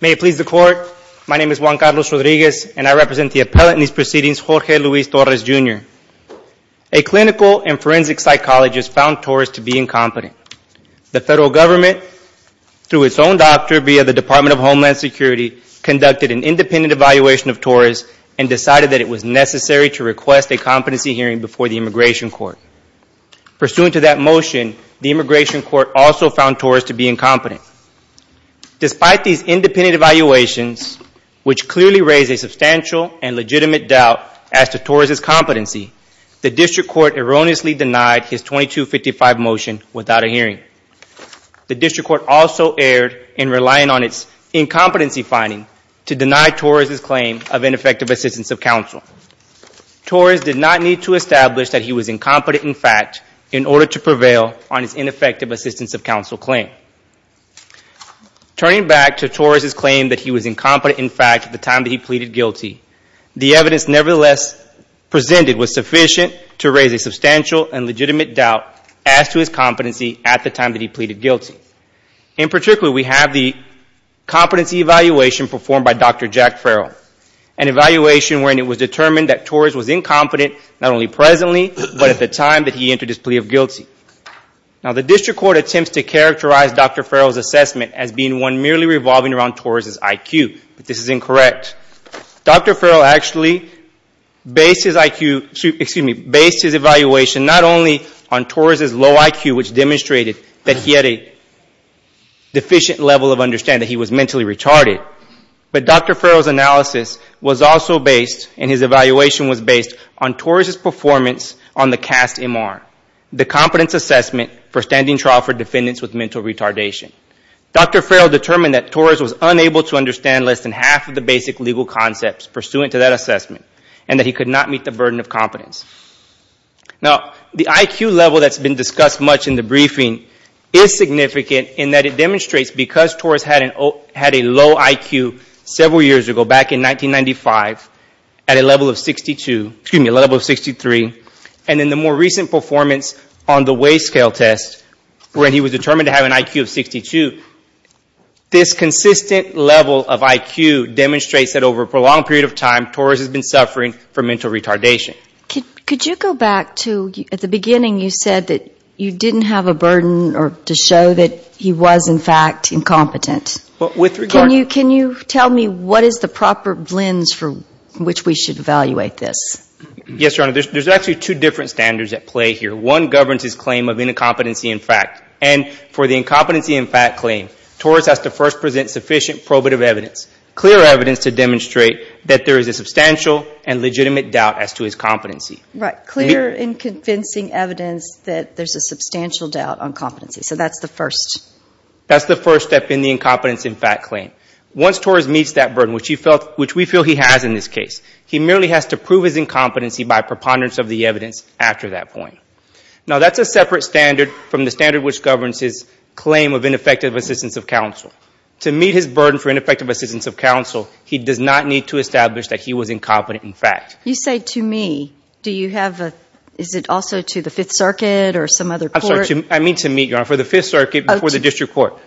May it please the Court, my name is Juan Carlos Rodriguez and I represent the appellate in these proceedings, Jorge Luis Torres, Jr. A clinical and forensic psychologist found Torres to be incompetent. The federal government, through its own doctor via the Department of Homeland Security, conducted an independent evaluation of Torres and decided that it was necessary to request a competency hearing before the Immigration Court. Pursuant to that motion, the Immigration Court also found Torres to be incompetent. Despite these independent evaluations, which clearly raised a substantial and legitimate doubt as to Torres' competency, the District Court erroneously denied his 2255 motion without a hearing. The District Court also erred in relying on its incompetency finding to deny Torres' claim of ineffective assistance of counsel. Torres did not need to establish that he was incompetent in fact in order to prevail on his ineffective assistance of counsel claim. Turning back to Torres' claim that he was incompetent in fact at the time that he pleaded guilty, the evidence nevertheless presented was sufficient to raise a substantial and legitimate doubt as to his competency at the time that he pleaded guilty. In particular, we have the competency evaluation performed by Dr. Jack Farrell, an evaluation wherein it was determined that Torres was incompetent not only presently, but at the time that he entered his plea of guilty. Now the District Court attempts to characterize Dr. Farrell's assessment as being one merely revolving around Torres' IQ, but this is incorrect. Dr. Farrell actually based his IQ, excuse me, based his evaluation not only on Torres' low IQ, which demonstrated that he had a deficient level of understanding, that he was mentally retarded, but Dr. Farrell's analysis was also based, and his evaluation was based on Torres' performance on the CAST-MR, the Competence Assessment for Standing Trial for Defendants with Mental Retardation. Dr. Farrell determined that Torres was unable to understand less than half of the basic legal concepts pursuant to that assessment, and that he could not meet the burden of competence. Now the IQ level that's been discussed much in the briefing is significant in that it was a low IQ several years ago, back in 1995, at a level of 62, excuse me, a level of 63, and in the more recent performance on the Weigh Scale Test, when he was determined to have an IQ of 62, this consistent level of IQ demonstrates that over a prolonged period of time, Torres has been suffering from mental retardation. Could you go back to, at the beginning you said that you didn't have a burden to show that he was in fact incompetent. Can you tell me what is the proper lens from which we should evaluate this? Yes, Your Honor. There's actually two different standards at play here. One governs his claim of incompetency in fact, and for the incompetency in fact claim, Torres has to first present sufficient probative evidence, clear evidence to demonstrate that there is a substantial and legitimate doubt as to his competency. Right. Clear and convincing evidence that there's a substantial doubt on competency. So that's the first. That's the first step in the incompetence in fact claim. Once Torres meets that burden, which we feel he has in this case, he merely has to prove his incompetency by preponderance of the evidence after that point. Now that's a separate standard from the standard which governs his claim of ineffective assistance of counsel. To meet his burden for ineffective assistance of counsel, he does not need to establish that he was incompetent in fact. You say to me, do you have a, is it also to the Fifth Circuit or some other court? I mean to meet, Your Honor, for the Fifth Circuit before the district court.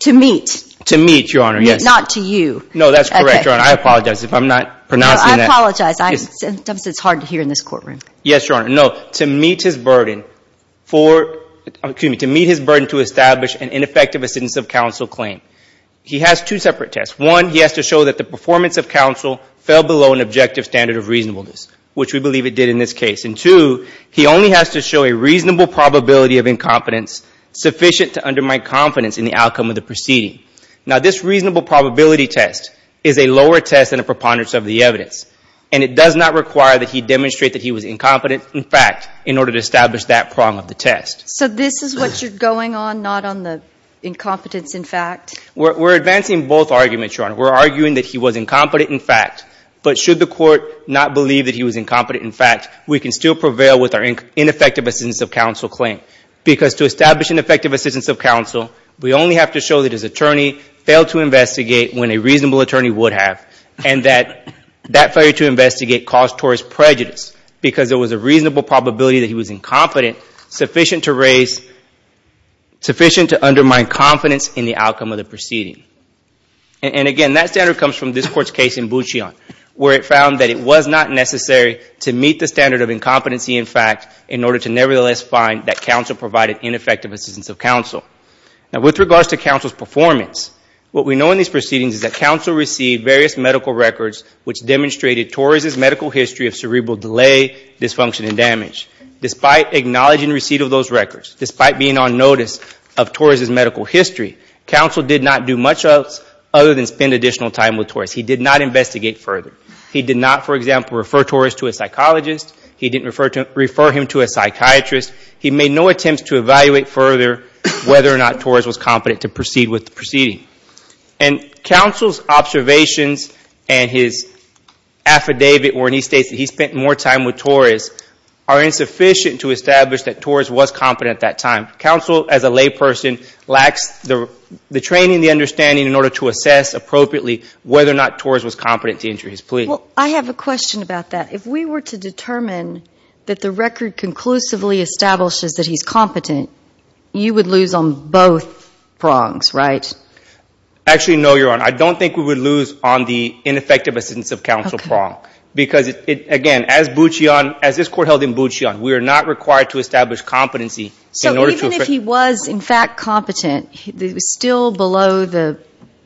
To meet. To meet, Your Honor, yes. Not to you. No, that's correct, Your Honor. I apologize if I'm not pronouncing that. No, I apologize. Sometimes it's hard to hear in this courtroom. Yes, Your Honor. No. To meet his burden for, excuse me, to meet his burden to establish an ineffective assistance of counsel claim, he has two separate tests. One, he has to show that the performance of counsel fell below an objective standard of reasonableness, which we believe it did in this case. And two, he only has to show a reasonable probability of incompetence sufficient to undermine confidence in the outcome of the proceeding. Now this reasonable probability test is a lower test than a preponderance of the evidence, and it does not require that he demonstrate that he was incompetent in fact in order to establish that prong of the test. So this is what you're going on, not on the incompetence in fact? We're advancing both arguments, Your Honor. We're arguing that he was incompetent in fact, but should the court not believe that he was incompetent in fact, we can still prevail with our ineffective assistance of counsel claim. Because to establish an effective assistance of counsel, we only have to show that his attorney failed to investigate when a reasonable attorney would have, and that that failure to investigate caused Torres prejudice because there was a reasonable probability that he was incompetent sufficient to raise, sufficient to undermine confidence in the outcome of the proceeding. And again, that standard comes from this court's case in Bouchillon, where it found that it was not necessary to meet the standard of incompetency in fact, in order to nevertheless find that counsel provided ineffective assistance of counsel. Now with regards to counsel's performance, what we know in these proceedings is that counsel received various medical records which demonstrated Torres' medical history of cerebral delay, dysfunction, and damage. Despite acknowledging receipt of those records, despite being on drugs, other than spend additional time with Torres, he did not investigate further. He did not, for example, refer Torres to a psychologist. He didn't refer him to a psychiatrist. He made no attempts to evaluate further whether or not Torres was competent to proceed with the proceeding. And counsel's observations and his affidavit where he states that he spent more time with Torres are insufficient to establish that Torres was competent at that time. Counsel as a layperson lacks the training and the understanding in order to assess appropriately whether or not Torres was competent to enter his plea. Well, I have a question about that. If we were to determine that the record conclusively establishes that he's competent, you would lose on both prongs, right? Actually no, Your Honor. I don't think we would lose on the ineffective assistance of counsel prong. Because again, as Bouchillon, as this court held in Bouchillon, we are not required to establish competency in order to But if he was, in fact, competent, it was still below the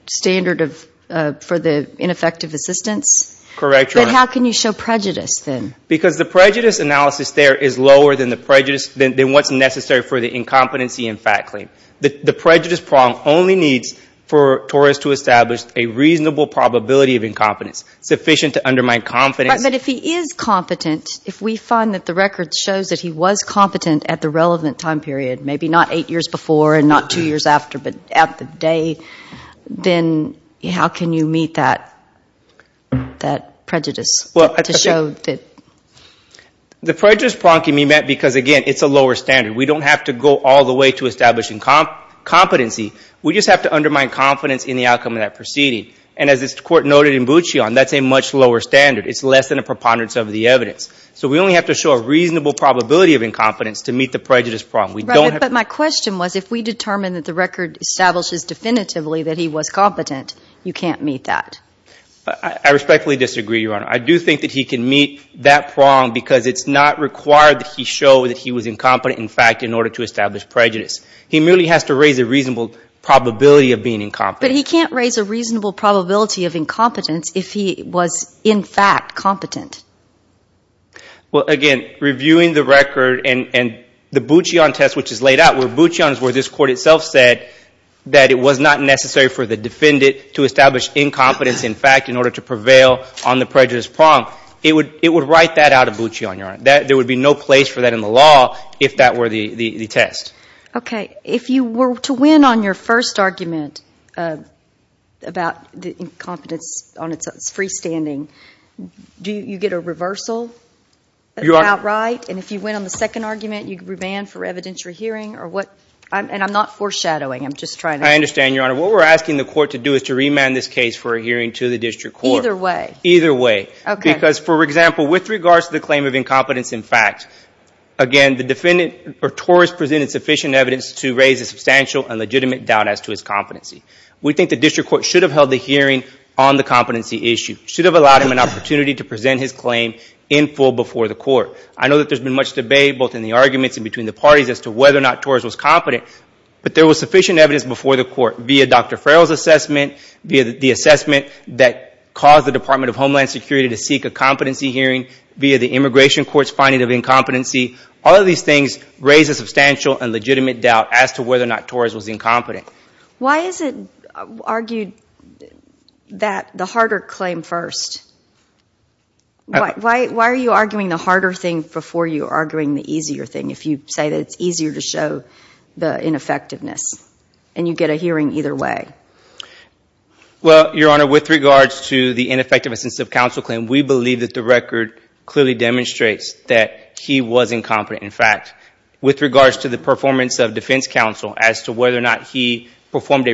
standard for the ineffective assistance? Correct, Your Honor. But how can you show prejudice then? Because the prejudice analysis there is lower than what's necessary for the incompetency in fact claim. The prejudice prong only needs for Torres to establish a reasonable probability of incompetence, sufficient to undermine confidence. But if he is competent, if we find that the record shows that he was competent at the time, not eight years before and not two years after, but at the day, then how can you meet that prejudice to show that The prejudice prong can be met because, again, it's a lower standard. We don't have to go all the way to establishing competency. We just have to undermine confidence in the outcome of that proceeding. And as this court noted in Bouchillon, that's a much lower standard. It's less than a preponderance of the evidence. So we only have to show a reasonable probability of incompetence to meet the prejudice prong. Right. But my question was, if we determine that the record establishes definitively that he was competent, you can't meet that. I respectfully disagree, Your Honor. I do think that he can meet that prong because it's not required that he show that he was incompetent in fact in order to establish prejudice. He merely has to raise a reasonable probability of being incompetent. But he can't raise a reasonable probability of incompetence if he was in fact competent. Well, again, reviewing the record and the Bouchillon test which is laid out, where Bouchillon is where this court itself said that it was not necessary for the defendant to establish incompetence in fact in order to prevail on the prejudice prong, it would write that out of Bouchillon, Your Honor. There would be no place for that in the law if that were the test. Okay. If you were to win on your first argument about the incompetence on its freestanding, do you get a reversal outright? And if you win on the second argument, you can remand for evidentiary hearing or what? And I'm not foreshadowing. I'm just trying to... I understand, Your Honor. What we're asking the court to do is to remand this case for a hearing to the district court. Either way. Either way. Because, for example, with regards to the claim of incompetence in fact, again, the defendant or Torres presented sufficient evidence to raise a substantial and legitimate doubt as to his competency. We think the district court should have held the hearing on the bottom, an opportunity to present his claim in full before the court. I know that there's been much debate both in the arguments and between the parties as to whether or not Torres was competent, but there was sufficient evidence before the court via Dr. Farrell's assessment, via the assessment that caused the Department of Homeland Security to seek a competency hearing via the immigration court's finding of incompetency. All of these things raise a substantial and legitimate doubt as to whether or not Torres was incompetent. Why is it argued that the harder claim first? Why are you arguing the harder thing before you are arguing the easier thing if you say that it's easier to show the ineffectiveness and you get a hearing either way? Well, Your Honor, with regards to the ineffectiveness of counsel claim, we believe that the record clearly demonstrates that he was incompetent. In fact, with regards to the performance of a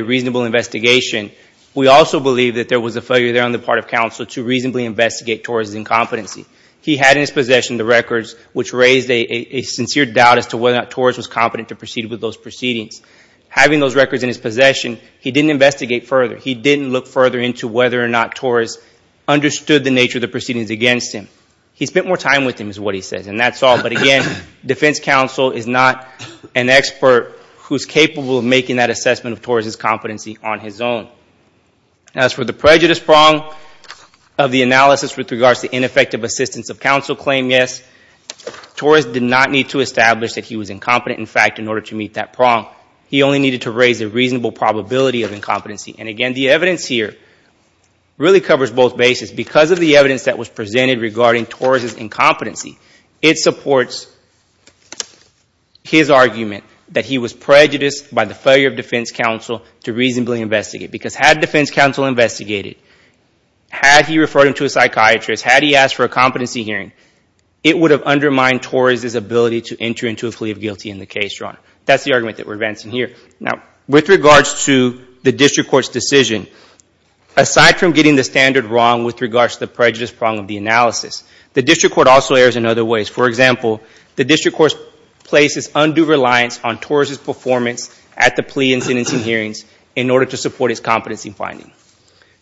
reasonable investigation, we also believe that there was a failure there on the part of counsel to reasonably investigate Torres' incompetency. He had in his possession the records which raised a sincere doubt as to whether or not Torres was competent to proceed with those proceedings. Having those records in his possession, he didn't investigate further. He didn't look further into whether or not Torres understood the nature of the proceedings against him. He spent more time with him, is what he says, and that's all. But again, defense counsel is not an expert who's capable of making that assessment of Torres' competency on his own. As for the prejudice prong of the analysis with regards to ineffective assistance of counsel claim, yes, Torres did not need to establish that he was incompetent. In fact, in order to meet that prong, he only needed to raise a reasonable probability of incompetency. And again, the evidence here really covers both bases. Because of the evidence that was presented, his argument that he was prejudiced by the failure of defense counsel to reasonably investigate, because had defense counsel investigated, had he referred him to a psychiatrist, had he asked for a competency hearing, it would have undermined Torres' ability to enter into a plea of guilty in the case, Your Honor. That's the argument that we're advancing here. Now, with regards to the district court's decision, aside from getting the standard wrong with regards to the prejudice prong of the analysis, the district court also errs in other ways. For example, the district court places undue reliance on Torres' performance at the plea and sentencing hearings in order to support his competency finding.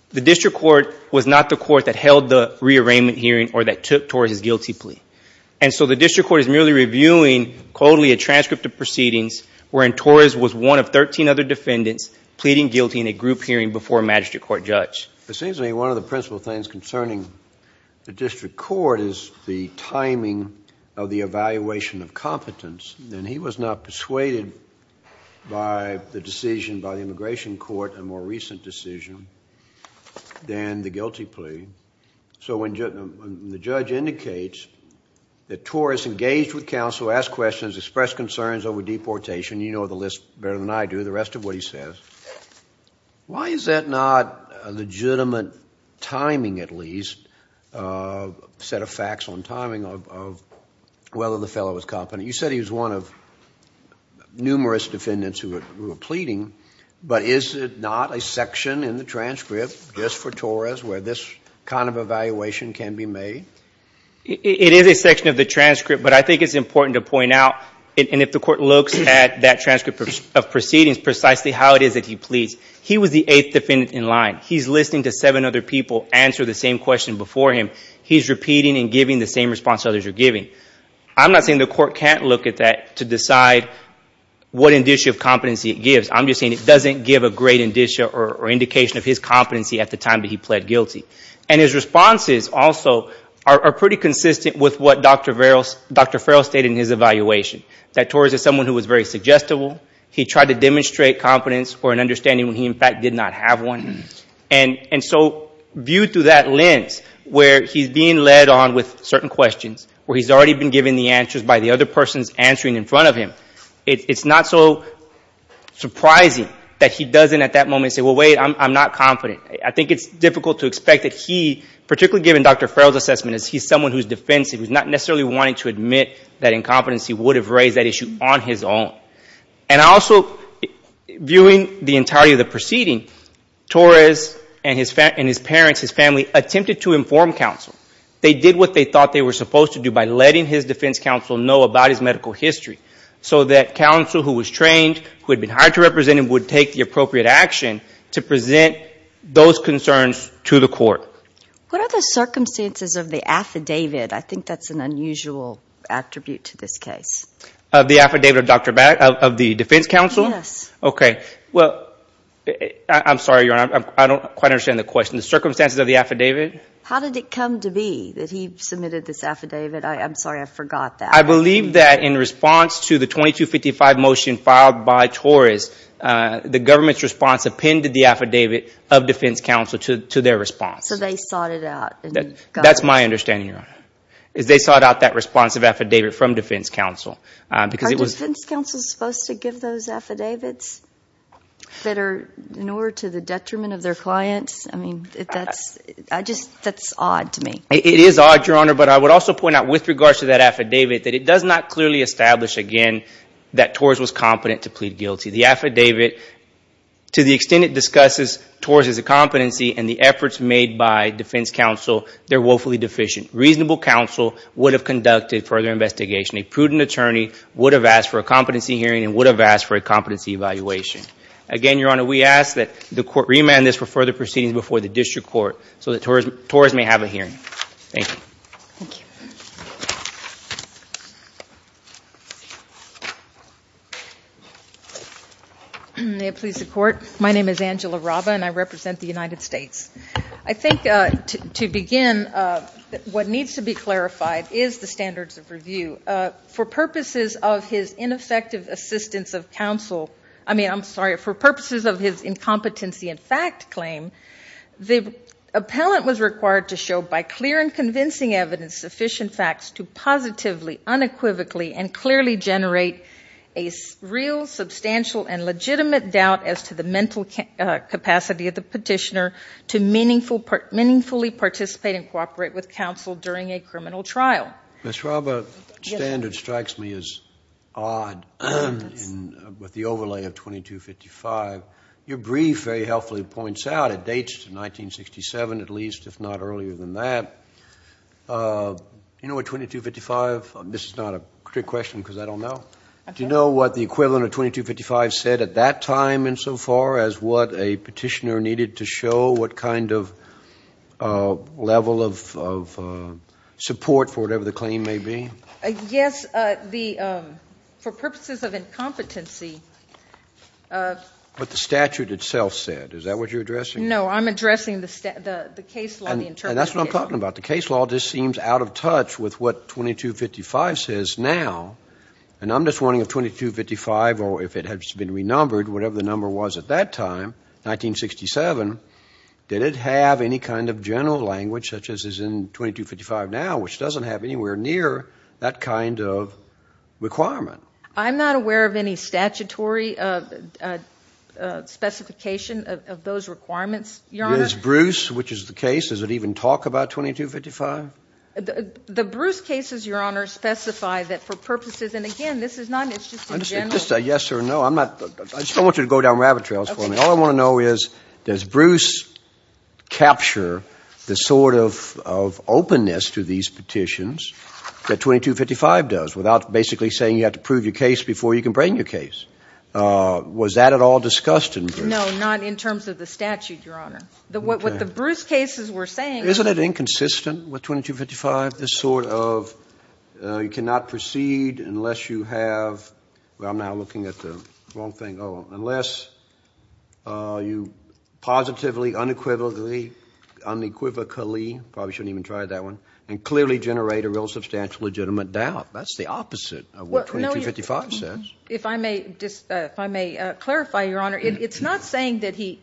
The district court was not the court that held the rearrangement hearing or that took Torres' guilty plea. And so the district court is merely reviewing, coldly, a transcript of proceedings wherein Torres was one of 13 other defendants pleading guilty in a group hearing before a magistrate court judge. It seems to me one of the principal things concerning the district court is the timing of the evaluation of competence. And he was not persuaded by the decision by the immigration court, a more recent decision, than the guilty plea. So when the judge indicates that Torres engaged with counsel, asked questions, expressed concerns over deportation, you know the list better than I do, the rest of what he says, why is that not a legitimate timing, at least, set of facts on timing of whether the fellow was competent? You said he was one of numerous defendants who were pleading, but is it not a section in the transcript just for Torres where this kind of evaluation can be made? It is a section of the transcript, but I think it's important to point out, and if the court looks at that transcript of proceedings precisely how it is that he pleads, he was the eighth defendant in line. He's listening to seven other people answer the same question before him. He's repeating and giving the same response others are giving. I'm not saying the court can't look at that to decide what indicia of competency it gives. I'm just saying it doesn't give a great indicia or indication of his competency at the time that he pled guilty. And his responses, also, are pretty consistent with what Dr. Farrell stated in his evaluation, that Torres is someone who was very suggestible. He tried to demonstrate competence or an understanding when he, in fact, did not have one. And so, viewed through that lens, where he's being led on with certain questions, where he's already been given the answers by the other persons answering in front of him, it's not so surprising that he doesn't at that moment say, well, wait, I'm not competent. I think it's difficult to expect that he, particularly given Dr. Farrell's assessment, as he's someone who's defensive, who's not necessarily wanting to admit that incompetency would have raised that issue on his own. And also, viewing the entirety of the proceeding, Torres and his parents, his family, attempted to inform counsel. They did what they thought they were supposed to do by letting his defense counsel know about his medical history, so that counsel who was trained, who had been hired to represent him, would take the appropriate action to present those concerns to the court. What are the circumstances of the affidavit? I think that's an unusual attribute to this case. The affidavit of the defense counsel? Yes. Okay. Well, I'm sorry, Your Honor, I don't quite understand the question. The circumstances of the affidavit? How did it come to be that he submitted this affidavit? I'm sorry, I forgot that. I believe that in response to the 2255 motion filed by Torres, the government's response appended the affidavit of defense counsel to their response. So they sought it out? That's my understanding, Your Honor, is they sought out that response of affidavit from defense counsel. Are defense counsel supposed to give those affidavits that are in order to the detriment of their clients? I mean, that's odd to me. It is odd, Your Honor, but I would also point out with regards to that affidavit that it does not clearly establish, again, that Torres was competent to plead guilty. The affidavit, to the extent it discusses Torres' competency and the efforts made by defense counsel, they're woefully deficient. Reasonable counsel would have conducted further investigation. A prudent attorney would have asked for a competency hearing and would have asked for a competency evaluation. Again, Your Honor, we ask that the court remand this for further proceedings before the district court so that Torres may have a hearing. Thank you. May it please the court. My name is Angela Raba and I represent the United States. I think to begin, what needs to be clarified is the standards of review. For purposes of his ineffective assistance of counsel, I mean, I'm sorry, for purposes of his incompetency and fact claim, the appellant was required to show by clear and convincing evidence sufficient facts to positively, unequivocally, and clearly generate a real, substantial, and legitimate doubt as to the mental capacity of the petitioner to meaningfully participate and cooperate with counsel during a criminal trial. Ms. Raba, standard strikes me as odd with the overlay of 2255. Your brief very helpfully points out it dates to 1967 at least, if not earlier than that. You know what 2255, this is not a trick question because I don't know. Do you know what the equivalent of 2255 said at that time and so far as what a petitioner needed to show, what kind of level of support for whatever the claim may be? Yes. The, for purposes of incompetency. What the statute itself said, is that what you're addressing? No, I'm addressing the case law, the interpretation. And that's what I'm talking about. The case law just seems out of touch with what 2255 says now. And I'm just wondering if 2255, or if it has been renumbered, whatever the number was at that time, 1967, did it have any kind of general language such as is in 2255 now, which doesn't have anywhere near that kind of requirement? I'm not aware of any statutory specification of those requirements, Your Honor. Does Bruce, which is the case, does it even talk about 2255? The Bruce cases, Your Honor, specify that for purposes, and again, this is not an interest in general. Just a yes or no. I'm not, I just don't want you to go down rabbit trails for me. All I want to know is, does Bruce capture the sort of openness to these petitions that 2255 does without basically saying you have to prove your case before you can bring your case? Was that at all discussed in Bruce? No, not in terms of the statute, Your Honor. What the Bruce cases were saying was... Isn't it inconsistent with 2255, this sort of you cannot proceed unless you have, I'm now looking at the wrong thing, unless you positively, unequivocally, unequivocally, probably shouldn't even try that one, and clearly generate a real substantial legitimate doubt. That's the opposite of what 2255 says. If I may clarify, Your Honor, it's not saying that he's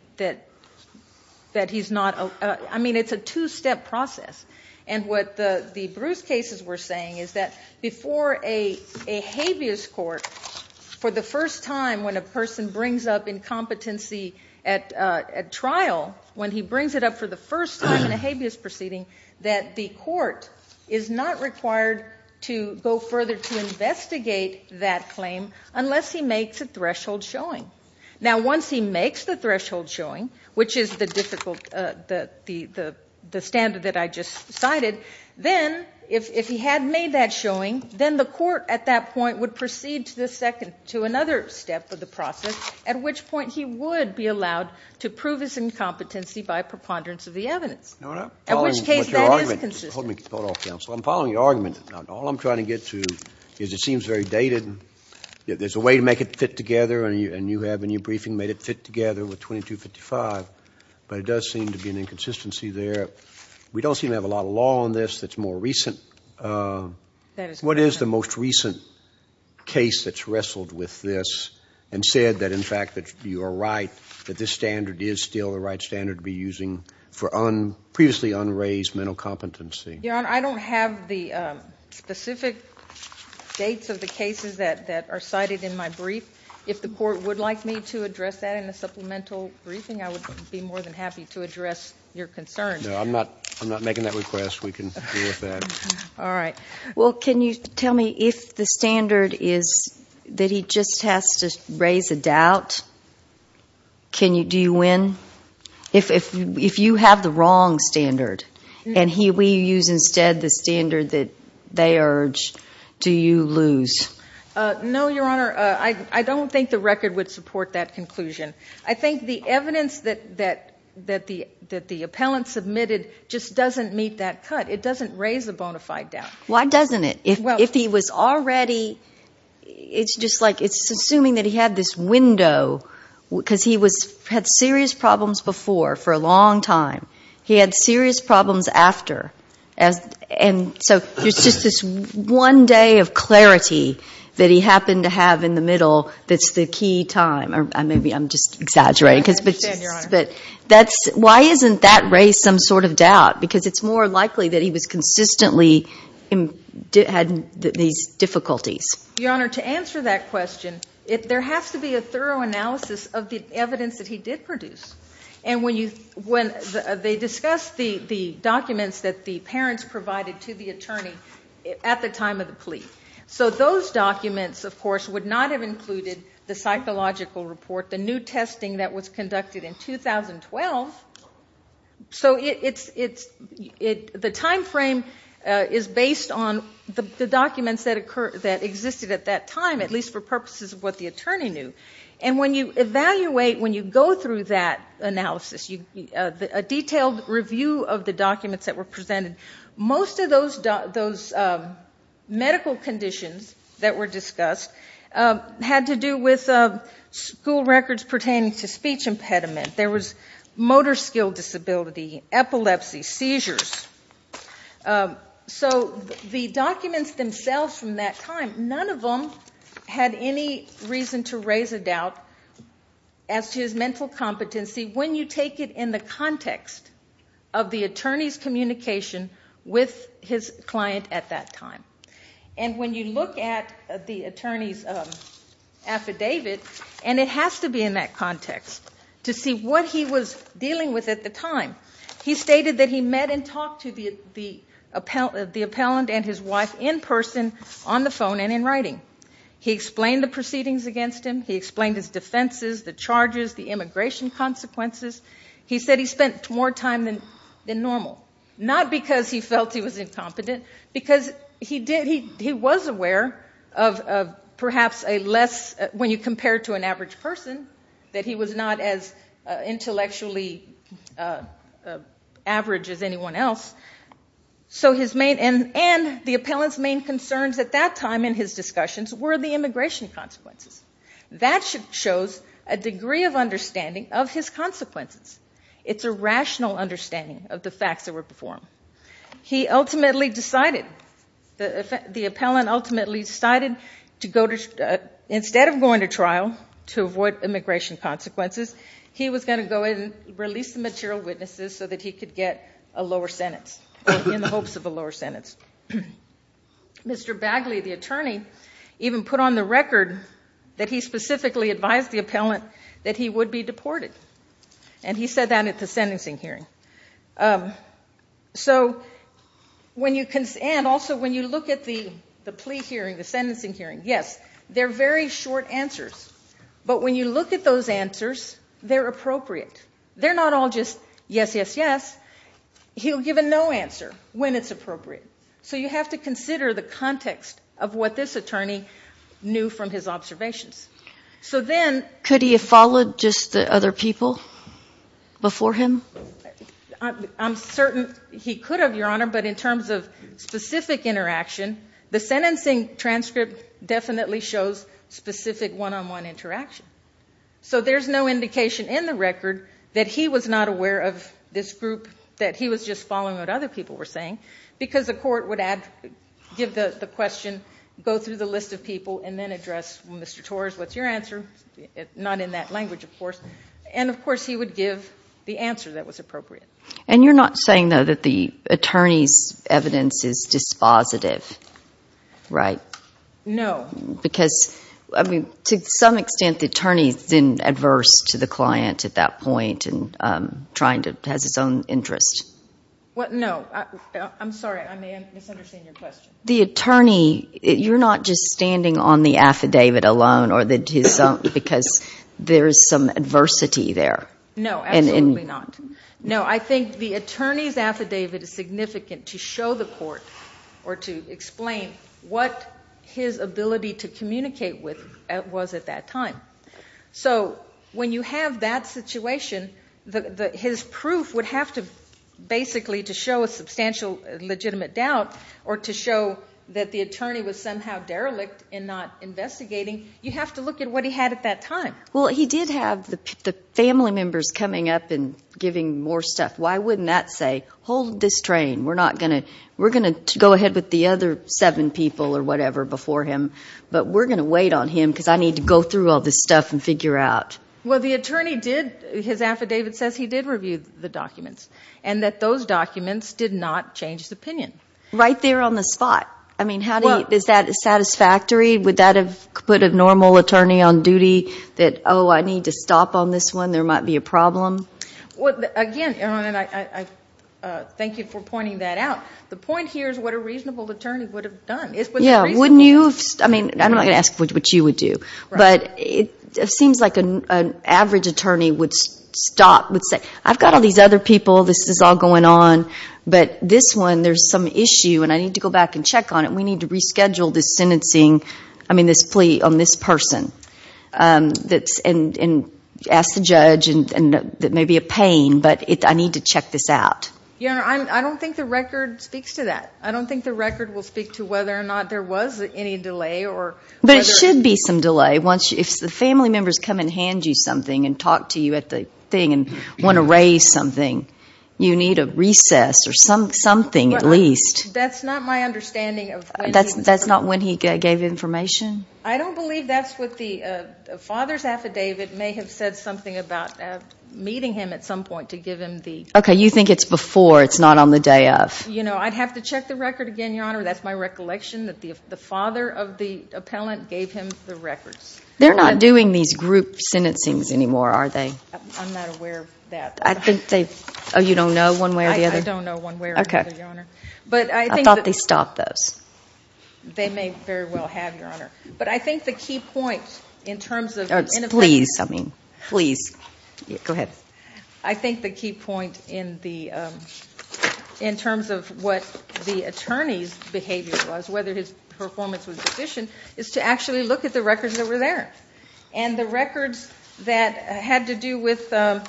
not, I mean, it's a two-step process. And what the Bruce cases were saying is that before a habeas court, for the first time when a person brings up incompetency at trial, when he brings it up for the first time in his life, he has to go further to investigate that claim unless he makes a threshold showing. Now once he makes the threshold showing, which is the difficult, the standard that I just cited, then if he had made that showing, then the court at that point would proceed to another step of the process, at which point he would be allowed to prove his incompetency by preponderance of the evidence, at which case that is consistent. Hold off, counsel. I'm following your argument. All I'm trying to get to is it seems very dated. There's a way to make it fit together, and you have in your briefing made it fit together with 2255, but it does seem to be an inconsistency there. We don't seem to have a lot of law on this that's more recent. What is the most recent case that's wrestled with this and said that, in fact, that you are right, that this standard is still the right standard to be using for previously unraised mental competency? Your Honor, I don't have the specific dates of the cases that are cited in my brief. If the court would like me to address that in a supplemental briefing, I would be more than happy to address your concerns. No, I'm not making that request. We can deal with that. All right. Well, can you tell me if the standard is that he just has to raise a doubt? Do you win? If you have the wrong standard, and we use instead the standard that they urge, do you lose? No, Your Honor. I don't think the record would support that conclusion. I think the evidence that the appellant submitted just doesn't meet that cut. It doesn't raise a bona fide doubt. Why doesn't it? If he was already—it's just like it's assuming that he had this window because he had serious problems before for a long time. He had serious problems after. So there's just this one day of clarity that he happened to have in the middle that's the key time. Maybe I'm just exaggerating. I understand, Your Honor. Why isn't that raised some sort of doubt? Because it's more likely that he was consistently having these difficulties. Your Honor, to answer that question, there has to be a thorough analysis of the evidence that he did produce. And when they discussed the documents that the parents provided to the attorney at the time of the plea. So those documents, of course, would not have included the psychological report, the new testing that was conducted in 2012. So the timeframe is based on the documents that existed at that time, at least for purposes of what the attorney knew. And when you evaluate, when you go through that analysis, a detailed review of the documents that were presented, most of those medical conditions that were discussed had to do with school records pertaining to speech impediment. There was motor skill disability, epilepsy, so the documents themselves from that time, none of them had any reason to raise a doubt as to his mental competency when you take it in the context of the attorney's communication with his client at that time. And when you look at the attorney's affidavit, and it has to be in that context, to see what he was dealing with at the time. He stated that he met and talked to the appellant and his wife in person, on the phone and in writing. He explained the proceedings against him. He explained his defenses, the charges, the immigration consequences. He said he spent more time than normal, not because he felt he was incompetent, because he was aware of perhaps a less, when you compare to an average person, that he was not as intellectually average as anyone else. So his main, and the appellant's main concerns at that time in his discussions were the immigration consequences. That shows a degree of understanding of his consequences. It's a rational understanding of the facts that were before him. He ultimately decided, the appellant ultimately decided to go to, instead of going to trial to avoid immigration consequences, he was going to go in and release the material witnesses so that he could get a lower sentence, in the hopes of a lower sentence. Mr. Bagley, the attorney, even put on the record that he specifically advised the appellant that he would be deported. And he said that at the sentencing hearing. So when you, and also when you look at the plea hearing, the sentencing hearing, yes, they're very short answers. But when you look at those answers, they're appropriate. They're not all just yes, yes, yes. He'll give a no answer when it's appropriate. So you have to consider the context of what this attorney knew from his observations. So then, could he have followed just the other people before him? I'm certain he could have, Your Honor, but in terms of specific interaction, the sentencing transcript definitely shows specific one-on-one interaction. So there's no indication in the record that he was not aware of this group, that he was just following what other people were saying, because the court would give the question, go through the list of people, and then address, Mr. Torres, what's your answer? Not in that language, of course. And of course, he would give the answer that was appropriate. And you're not saying, though, that the attorney's evidence is dispositive, right? No. Because, I mean, to some extent, the attorney's been adverse to the client at that point and trying to, has his own interest. What? No. I'm sorry. I may have misunderstood your question. The attorney, you're not just standing on the affidavit alone, or his own, because there's some adversity there. No, absolutely not. No, I think the attorney's affidavit is significant to show the court, or to explain what his ability to communicate with was at that time. So when you have that situation, his proof would have to, basically, to show a substantial legitimate doubt, or to show that the attorney was somehow derelict in not investigating, you have to look at what he had at that time. Well, he did have the family members coming up and giving more stuff. Why wouldn't that say, hold this train? We're not going to, we're going to go ahead with the other seven people, or whatever, before him. But we're going to wait on him, because I need to go through all this stuff and figure out. Well, the attorney did, his affidavit says he did review the documents, and that those documents did not change his opinion. Right there on the spot. I mean, how do you, is that satisfactory? Would that have put a normal attorney on duty, that, oh, I need to stop on this one, there might be a problem? Well, again, Erin, and I thank you for pointing that out. The point here is what a reasonable attorney would have done. Yeah, wouldn't you have, I mean, I'm not going to ask what you would do, but it seems like an average attorney would stop, would say, I've got all these other people, this is all an issue, and I need to go back and check on it, and we need to reschedule this sentencing, I mean, this plea on this person. And ask the judge, and that may be a pain, but I need to check this out. Yeah, I don't think the record speaks to that. I don't think the record will speak to whether or not there was any delay, or whether... But it should be some delay, once, if the family members come and hand you something, and talk to you at the thing, and want to raise something. You need a recess, or something at least. That's not my understanding of when he... That's not when he gave information? I don't believe that's what the father's affidavit may have said something about meeting him at some point to give him the... Okay, you think it's before, it's not on the day of. You know, I'd have to check the record again, Your Honor, that's my recollection, that the father of the appellant gave him the records. They're not doing these group sentencings anymore, are they? I'm not aware of that. I think they've... Oh, you don't know one way or the other? I don't know one way or the other, Your Honor. I thought they stopped those. They may very well have, Your Honor. But I think the key point in terms of... Please, I mean, please. Go ahead. I think the key point in terms of what the attorney's behavior was, whether his performance was deficient, is to actually look at the records that were there. And the records that were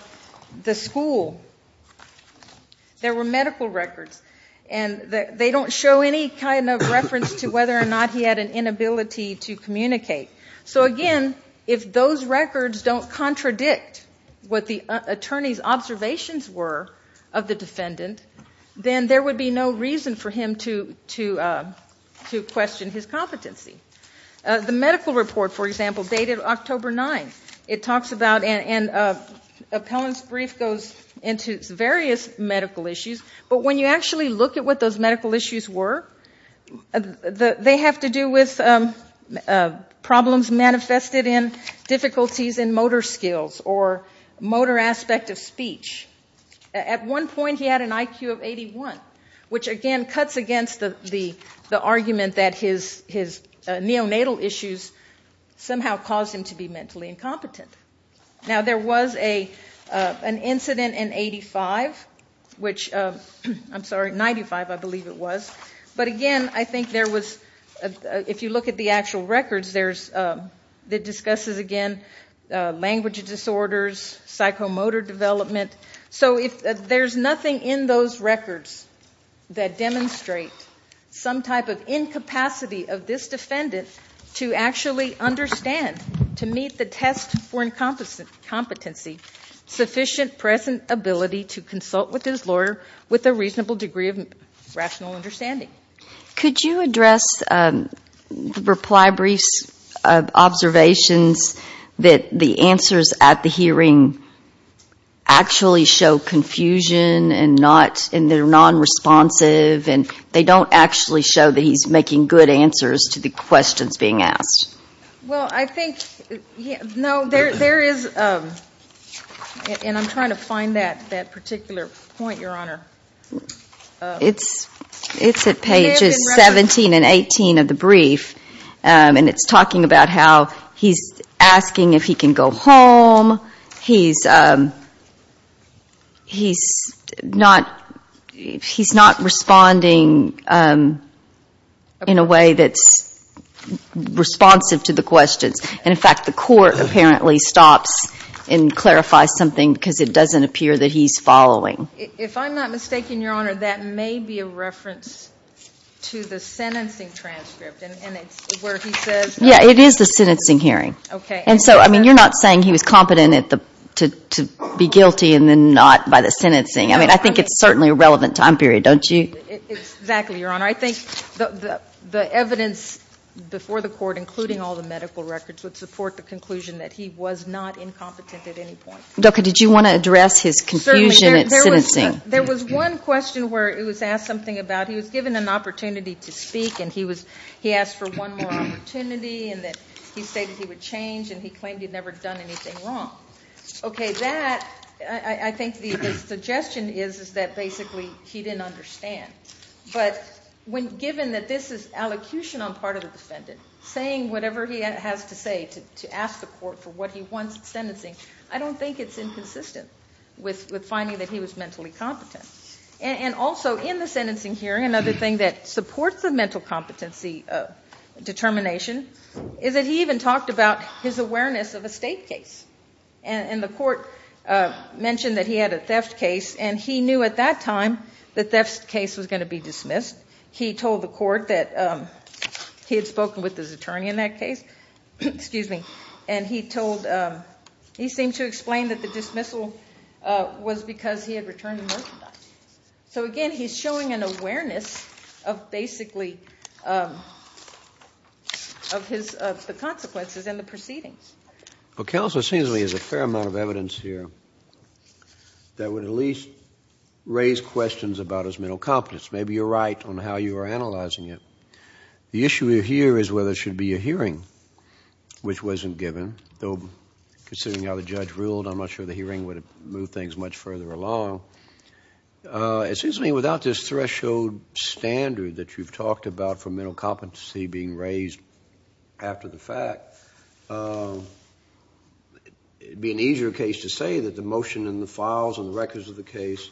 there were medical records. And they don't show any kind of reference to whether or not he had an inability to communicate. So again, if those records don't contradict what the attorney's observations were of the defendant, then there would be no reason for him to question his competency. The medical report, for example, dated October 9th. It talks about... Appellant's brief goes into various medical issues. But when you actually look at what those medical issues were, they have to do with problems manifested in difficulties in motor skills or motor aspect of speech. At one point, he had an IQ of 81, which again cuts against the argument that his neonatal issues somehow caused him to be mentally incompetent. Now, there was an incident in 85, which... I'm sorry, 95, I believe it was. But again, I think there was... if you look at the actual records, there's... that discusses again language disorders, psychomotor development. So if there's nothing in those records that demonstrate some type of incapacity of this defendant to actually understand, to meet the test for incompetency, sufficient present ability to consult with his lawyer with a reasonable degree of rational understanding. Could you address the reply brief's observations that the answers at the hearing actually show confusion and not... and they're non-responsive and they don't actually show that he's making good answers to the questions being asked? Well, I think... No, there is... And I'm trying to find that particular point, Your Honour. It's at pages 17 and 18 of the brief. And it's talking about how he's asking if he can go home. He's... He's not... He's not responding in a way that's... responsive to the questions. And in fact, the court apparently stops and clarifies something because it doesn't appear that he's following. If I'm not mistaken, Your Honour, that may be a reference to the sentencing transcript and it's where he says... Yeah, it is the sentencing hearing. OK. And so, I mean, you're not saying he was competent at the... to be guilty and then not by the sentencing. I mean, I think it's certainly a relevant time period, don't you? Exactly, Your Honour. I think the evidence before the court, including all the medical records, would support the conclusion that he was not incompetent at any point. Dr, did you want to address his confusion at sentencing? There was one question where it was asked something about... He was given an opportunity to speak and he was... He asked for one more opportunity and then he stated he would change and he claimed he'd never done anything wrong. OK, that... I think the suggestion is that basically he didn't understand. But when given that this is allocution on part of the defendant, saying whatever he has to say to ask the court for what he wants at sentencing, I don't think it's inconsistent with finding that he was mentally competent. And also, in the sentencing hearing, another thing that supports the mental competency determination is that he even talked about his awareness of a state case. And the court mentioned that he had a theft case and he knew at that time the theft case was going to be dismissed. He told the court that he had spoken with his attorney in that case. Excuse me. And he told... He seemed to explain that the dismissal was because he had returned the merchandise. So, again, he's showing an awareness of basically... ..of his...of the consequences and the proceedings. Well, Counsel, it seems there's a fair amount of evidence here that would at least raise questions about his mental competence. Maybe you're right on how you are analysing it. The issue here is whether there should be a hearing, which wasn't given, though, considering how the judge ruled, I'm not sure the hearing would have moved things much further along. It seems to me without this threshold standard that you've talked about for mental competency being raised after the fact, it would be an easier case to say that the motion and the files and the records of the case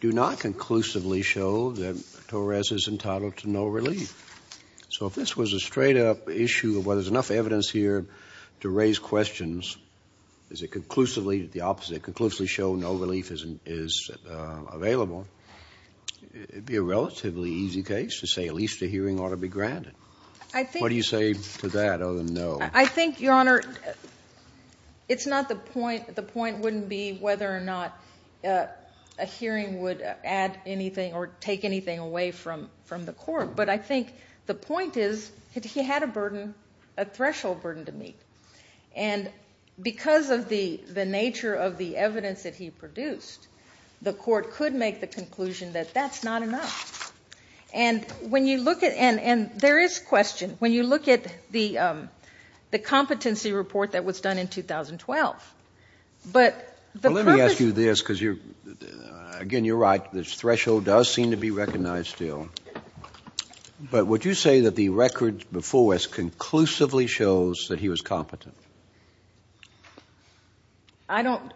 do not conclusively show that Torres is entitled to no relief. So if this was a straight-up issue of, well, there's enough evidence here to raise questions, is it conclusively the opposite, conclusively show no relief is available, it would be a relatively easy case to say at least the hearing ought to be granted. I think... What do you say to that other than no? I think, Your Honour, it's not the point... The point wouldn't be whether or not a hearing would add anything or take anything away from the court, but I think the point is he had a burden, a threshold burden to meet. And because of the nature of the evidence that he produced, the court could make the conclusion that that's not enough. And when you look at... And there is question. When you look at the competency report that was done in 2012, but the purpose... Let me ask you this, because, again, you're right, the threshold does seem to be recognised still, but would you say that the records before us conclusively shows that he was competent? I don't...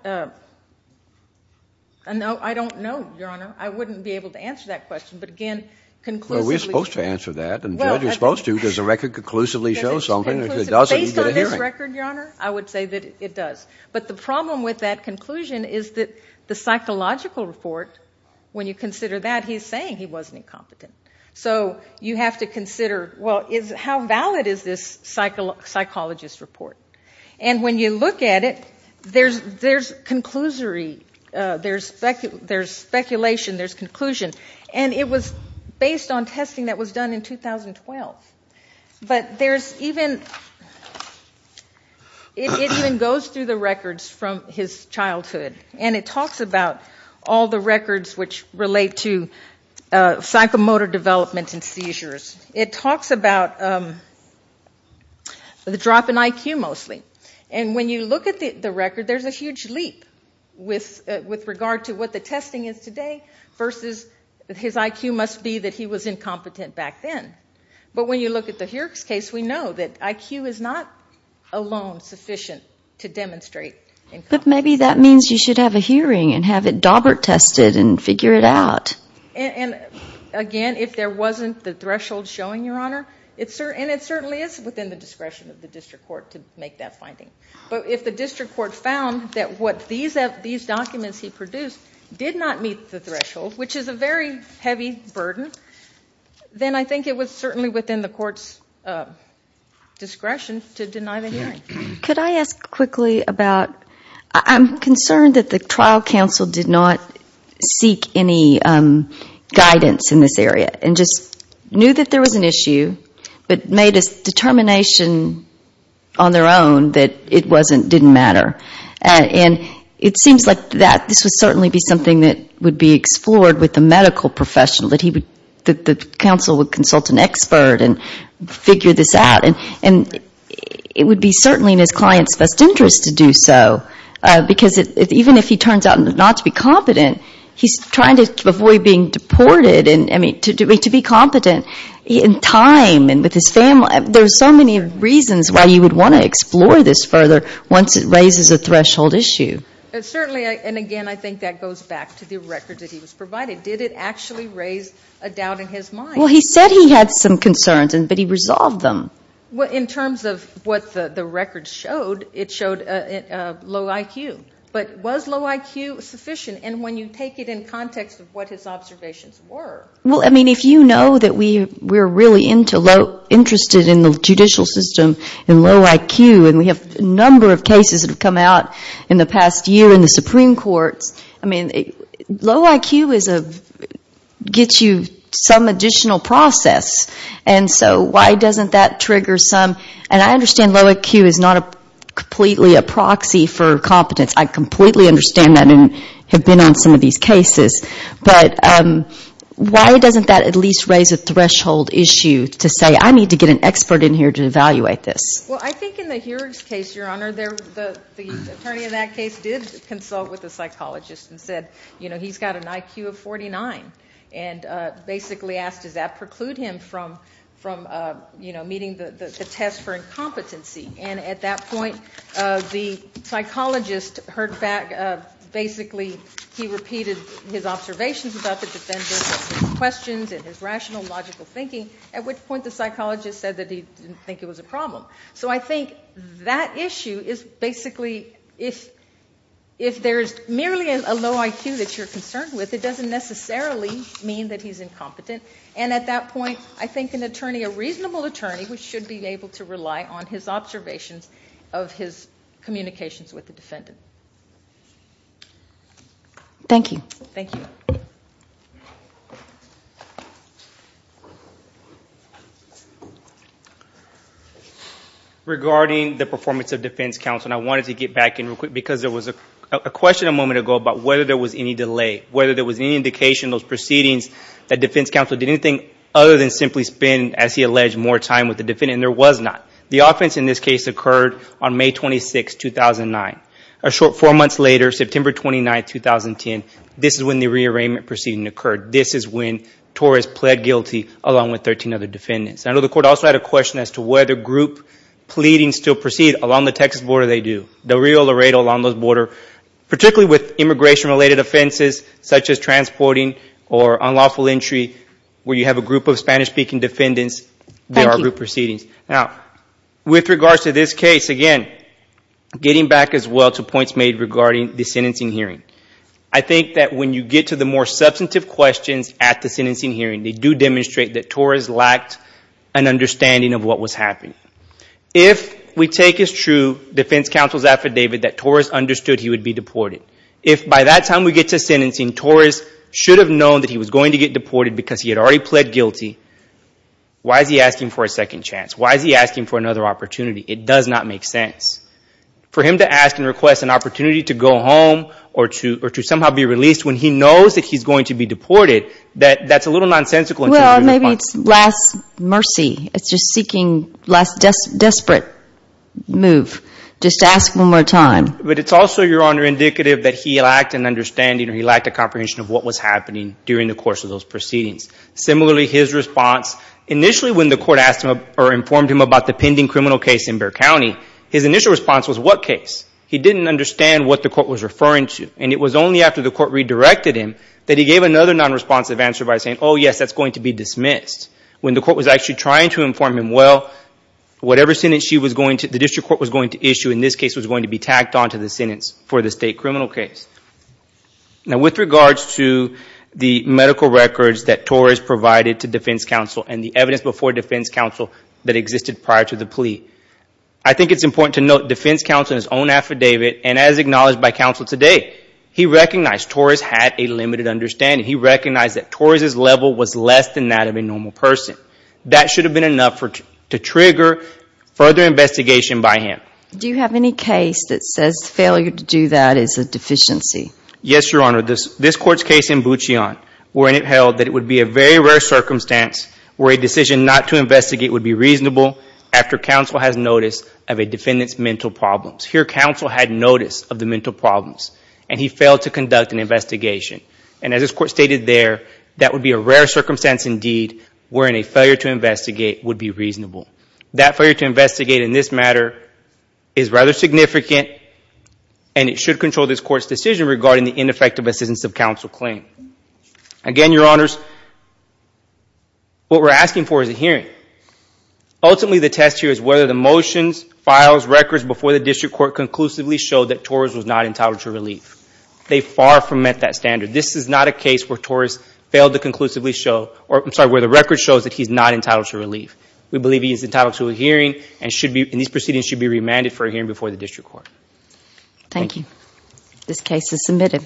I don't know, Your Honour. I wouldn't be able to answer that question, but, again, conclusively... Well, we're supposed to answer that, and judges are supposed to, so does the record conclusively show something? If it doesn't, you get a hearing. Based on this record, Your Honour, I would say that it does. But the problem with that conclusion is that the psychological report, when you consider that, he's saying he wasn't incompetent. So you have to consider, well, how valid is this psychologist report? And when you look at it, there's conclusory, there's speculation, there's conclusion. And it was based on testing that was done in 2012. But there's even... It even goes through the records from his childhood, and it talks about all the records which relate to psychomotor development and seizures. It talks about the drop in IQ, mostly. And when you look at the record, there's a huge leap with regard to what the testing is today versus his IQ must be that he was incompetent back then. But when you look at the Hearings case, we know that IQ is not alone sufficient to demonstrate... But maybe that means you should have a hearing and have it DAWBERT tested and figure it out. And again, if there wasn't the threshold showing, Your Honour, and it certainly is within the discretion of the district court to make that finding. But if the district court found that what these documents he produced did not meet the threshold, which is a very heavy burden, then I think it was certainly within the court's discretion to deny the hearing. Could I ask quickly about... I'm concerned that the trial counsel did not seek any guidance in this area and just knew that there was an issue, but made a determination on their own that it didn't matter. And it seems like this would certainly be something that would be explored with the medical professional, that the counsel would consult an expert and figure this out. And it would be certainly in his client's best interest to do so, because even if he turns out not to be competent, he's trying to avoid being deported. And to be competent in time and with his family, there's so many reasons why you would want to explore this further once it raises a threshold issue. Certainly, and again, I think that goes back to the records that he was provided. Did it actually raise a doubt in his mind? Well, he said he had some concerns, but he resolved them. Well, in terms of what the records showed, it showed low IQ. But was low IQ sufficient? And when you take it in context of what his observations were... Well, I mean, if you know that we're really interested in the judicial system and low IQ, and we have a number of cases that have come out in the past year in the Supreme Courts, I mean, low IQ gets you some additional process. And so why doesn't that trigger some... And I understand low IQ is not completely a proxy for competence. I completely understand that and have been on some of these cases. But why doesn't that at least raise a threshold issue to say, I need to get an expert in here to evaluate this? Well, I think in the Heurig's case, Your Honour, the attorney in that case did consult with the psychologist and said, you know, he's got an IQ of 49. And basically asked, does that preclude him from, you know, meeting the test for incompetency? And at that point, the psychologist heard back, basically he repeated his observations about the defendant's questions and his rational, logical thinking, at which point the psychologist said that he didn't think it was a problem. So I think that issue is basically, if there's merely a low IQ that you're concerned with, it doesn't necessarily mean that he's incompetent. And at that point, I think an attorney, a reasonable attorney, should be able to rely on his observations of his communications with the defendant. Thank you. Thank you. Regarding the performance of defense counsel, and I wanted to get back in real quick, because there was a question a moment ago about whether there was any delay, whether there was any indication in those proceedings that defense counsel did anything other than simply spend, as he alleged, more time with the defendant, and there was not. The offense in this case occurred on May 26, 2009. A short four months later, September 29, 2010, This is when Torres pled guilty along with 13 other defendants. And I know the court also had a question as to whether group pleadings still proceed along the Texas border. They do. Del Rio, Laredo, along those borders, particularly with immigration-related offenses such as transporting or unlawful entry, where you have a group of Spanish-speaking defendants, there are group proceedings. Now, with regards to this case, again, getting back as well to points made regarding the sentencing hearing, I think that when you get to the more substantive questions at the sentencing hearing, they do demonstrate that Torres lacked an understanding of what was happening. If we take as true defense counsel's affidavit that Torres understood he would be deported, if by that time we get to sentencing, Torres should have known that he was going to get deported because he had already pled guilty, why is he asking for a second chance? Why is he asking for another opportunity? It does not make sense. For him to ask and request an opportunity to go home or to somehow be released when he knows that he's going to be deported, that's a little nonsensical. Well, maybe it's last mercy. It's just seeking last desperate move. Just ask one more time. But it's also, Your Honor, indicative that he lacked an understanding or he lacked a comprehension of what was happening during the course of those proceedings. Similarly, his response, initially when the court asked him or informed him about the pending criminal case in Bexar County, his initial response was, what case? He didn't understand what the court was referring to. And it was only after the court redirected him that he gave another non-responsive answer by saying, oh, yes, that's going to be dismissed. When the court was actually trying to inform him, well, whatever sentence she was going to, the district court was going to issue in this case was going to be tacked onto the sentence for the state criminal case. Now, with regards to the medical records that Torres provided to defense counsel and the evidence before defense counsel that existed prior to the plea, I think it's important to note defense counsel in his own affidavit and as acknowledged by counsel today, he recognized Torres had a limited understanding. He recognized that Torres' level was less than that of a normal person. That should have been enough to trigger further investigation by him. Do you have any case that says failure to do that is a deficiency? Yes, Your Honor. This court's case in Butchion, wherein it held that it would be a very rare circumstance where a decision not to investigate would be reasonable after counsel has notice of a defendant's mental problems. Here, counsel had notice of the mental problems and he failed to conduct an investigation. And as this court stated there, that would be a rare circumstance indeed wherein a failure to investigate would be reasonable. That failure to investigate in this matter is rather significant and it should control this court's decision regarding the ineffective assistance of counsel claim. Again, Your Honors, what we're asking for is a hearing. Ultimately, the test here is whether the motions, files, records before the district court conclusively show that Torres was not entitled to relief. They far from met that standard. This is not a case where Torres failed to conclusively show, or I'm sorry, where the record shows that he's not entitled to relief. We believe he is entitled to a hearing and these proceedings should be remanded for a hearing before the district court. Thank you. This case is submitted.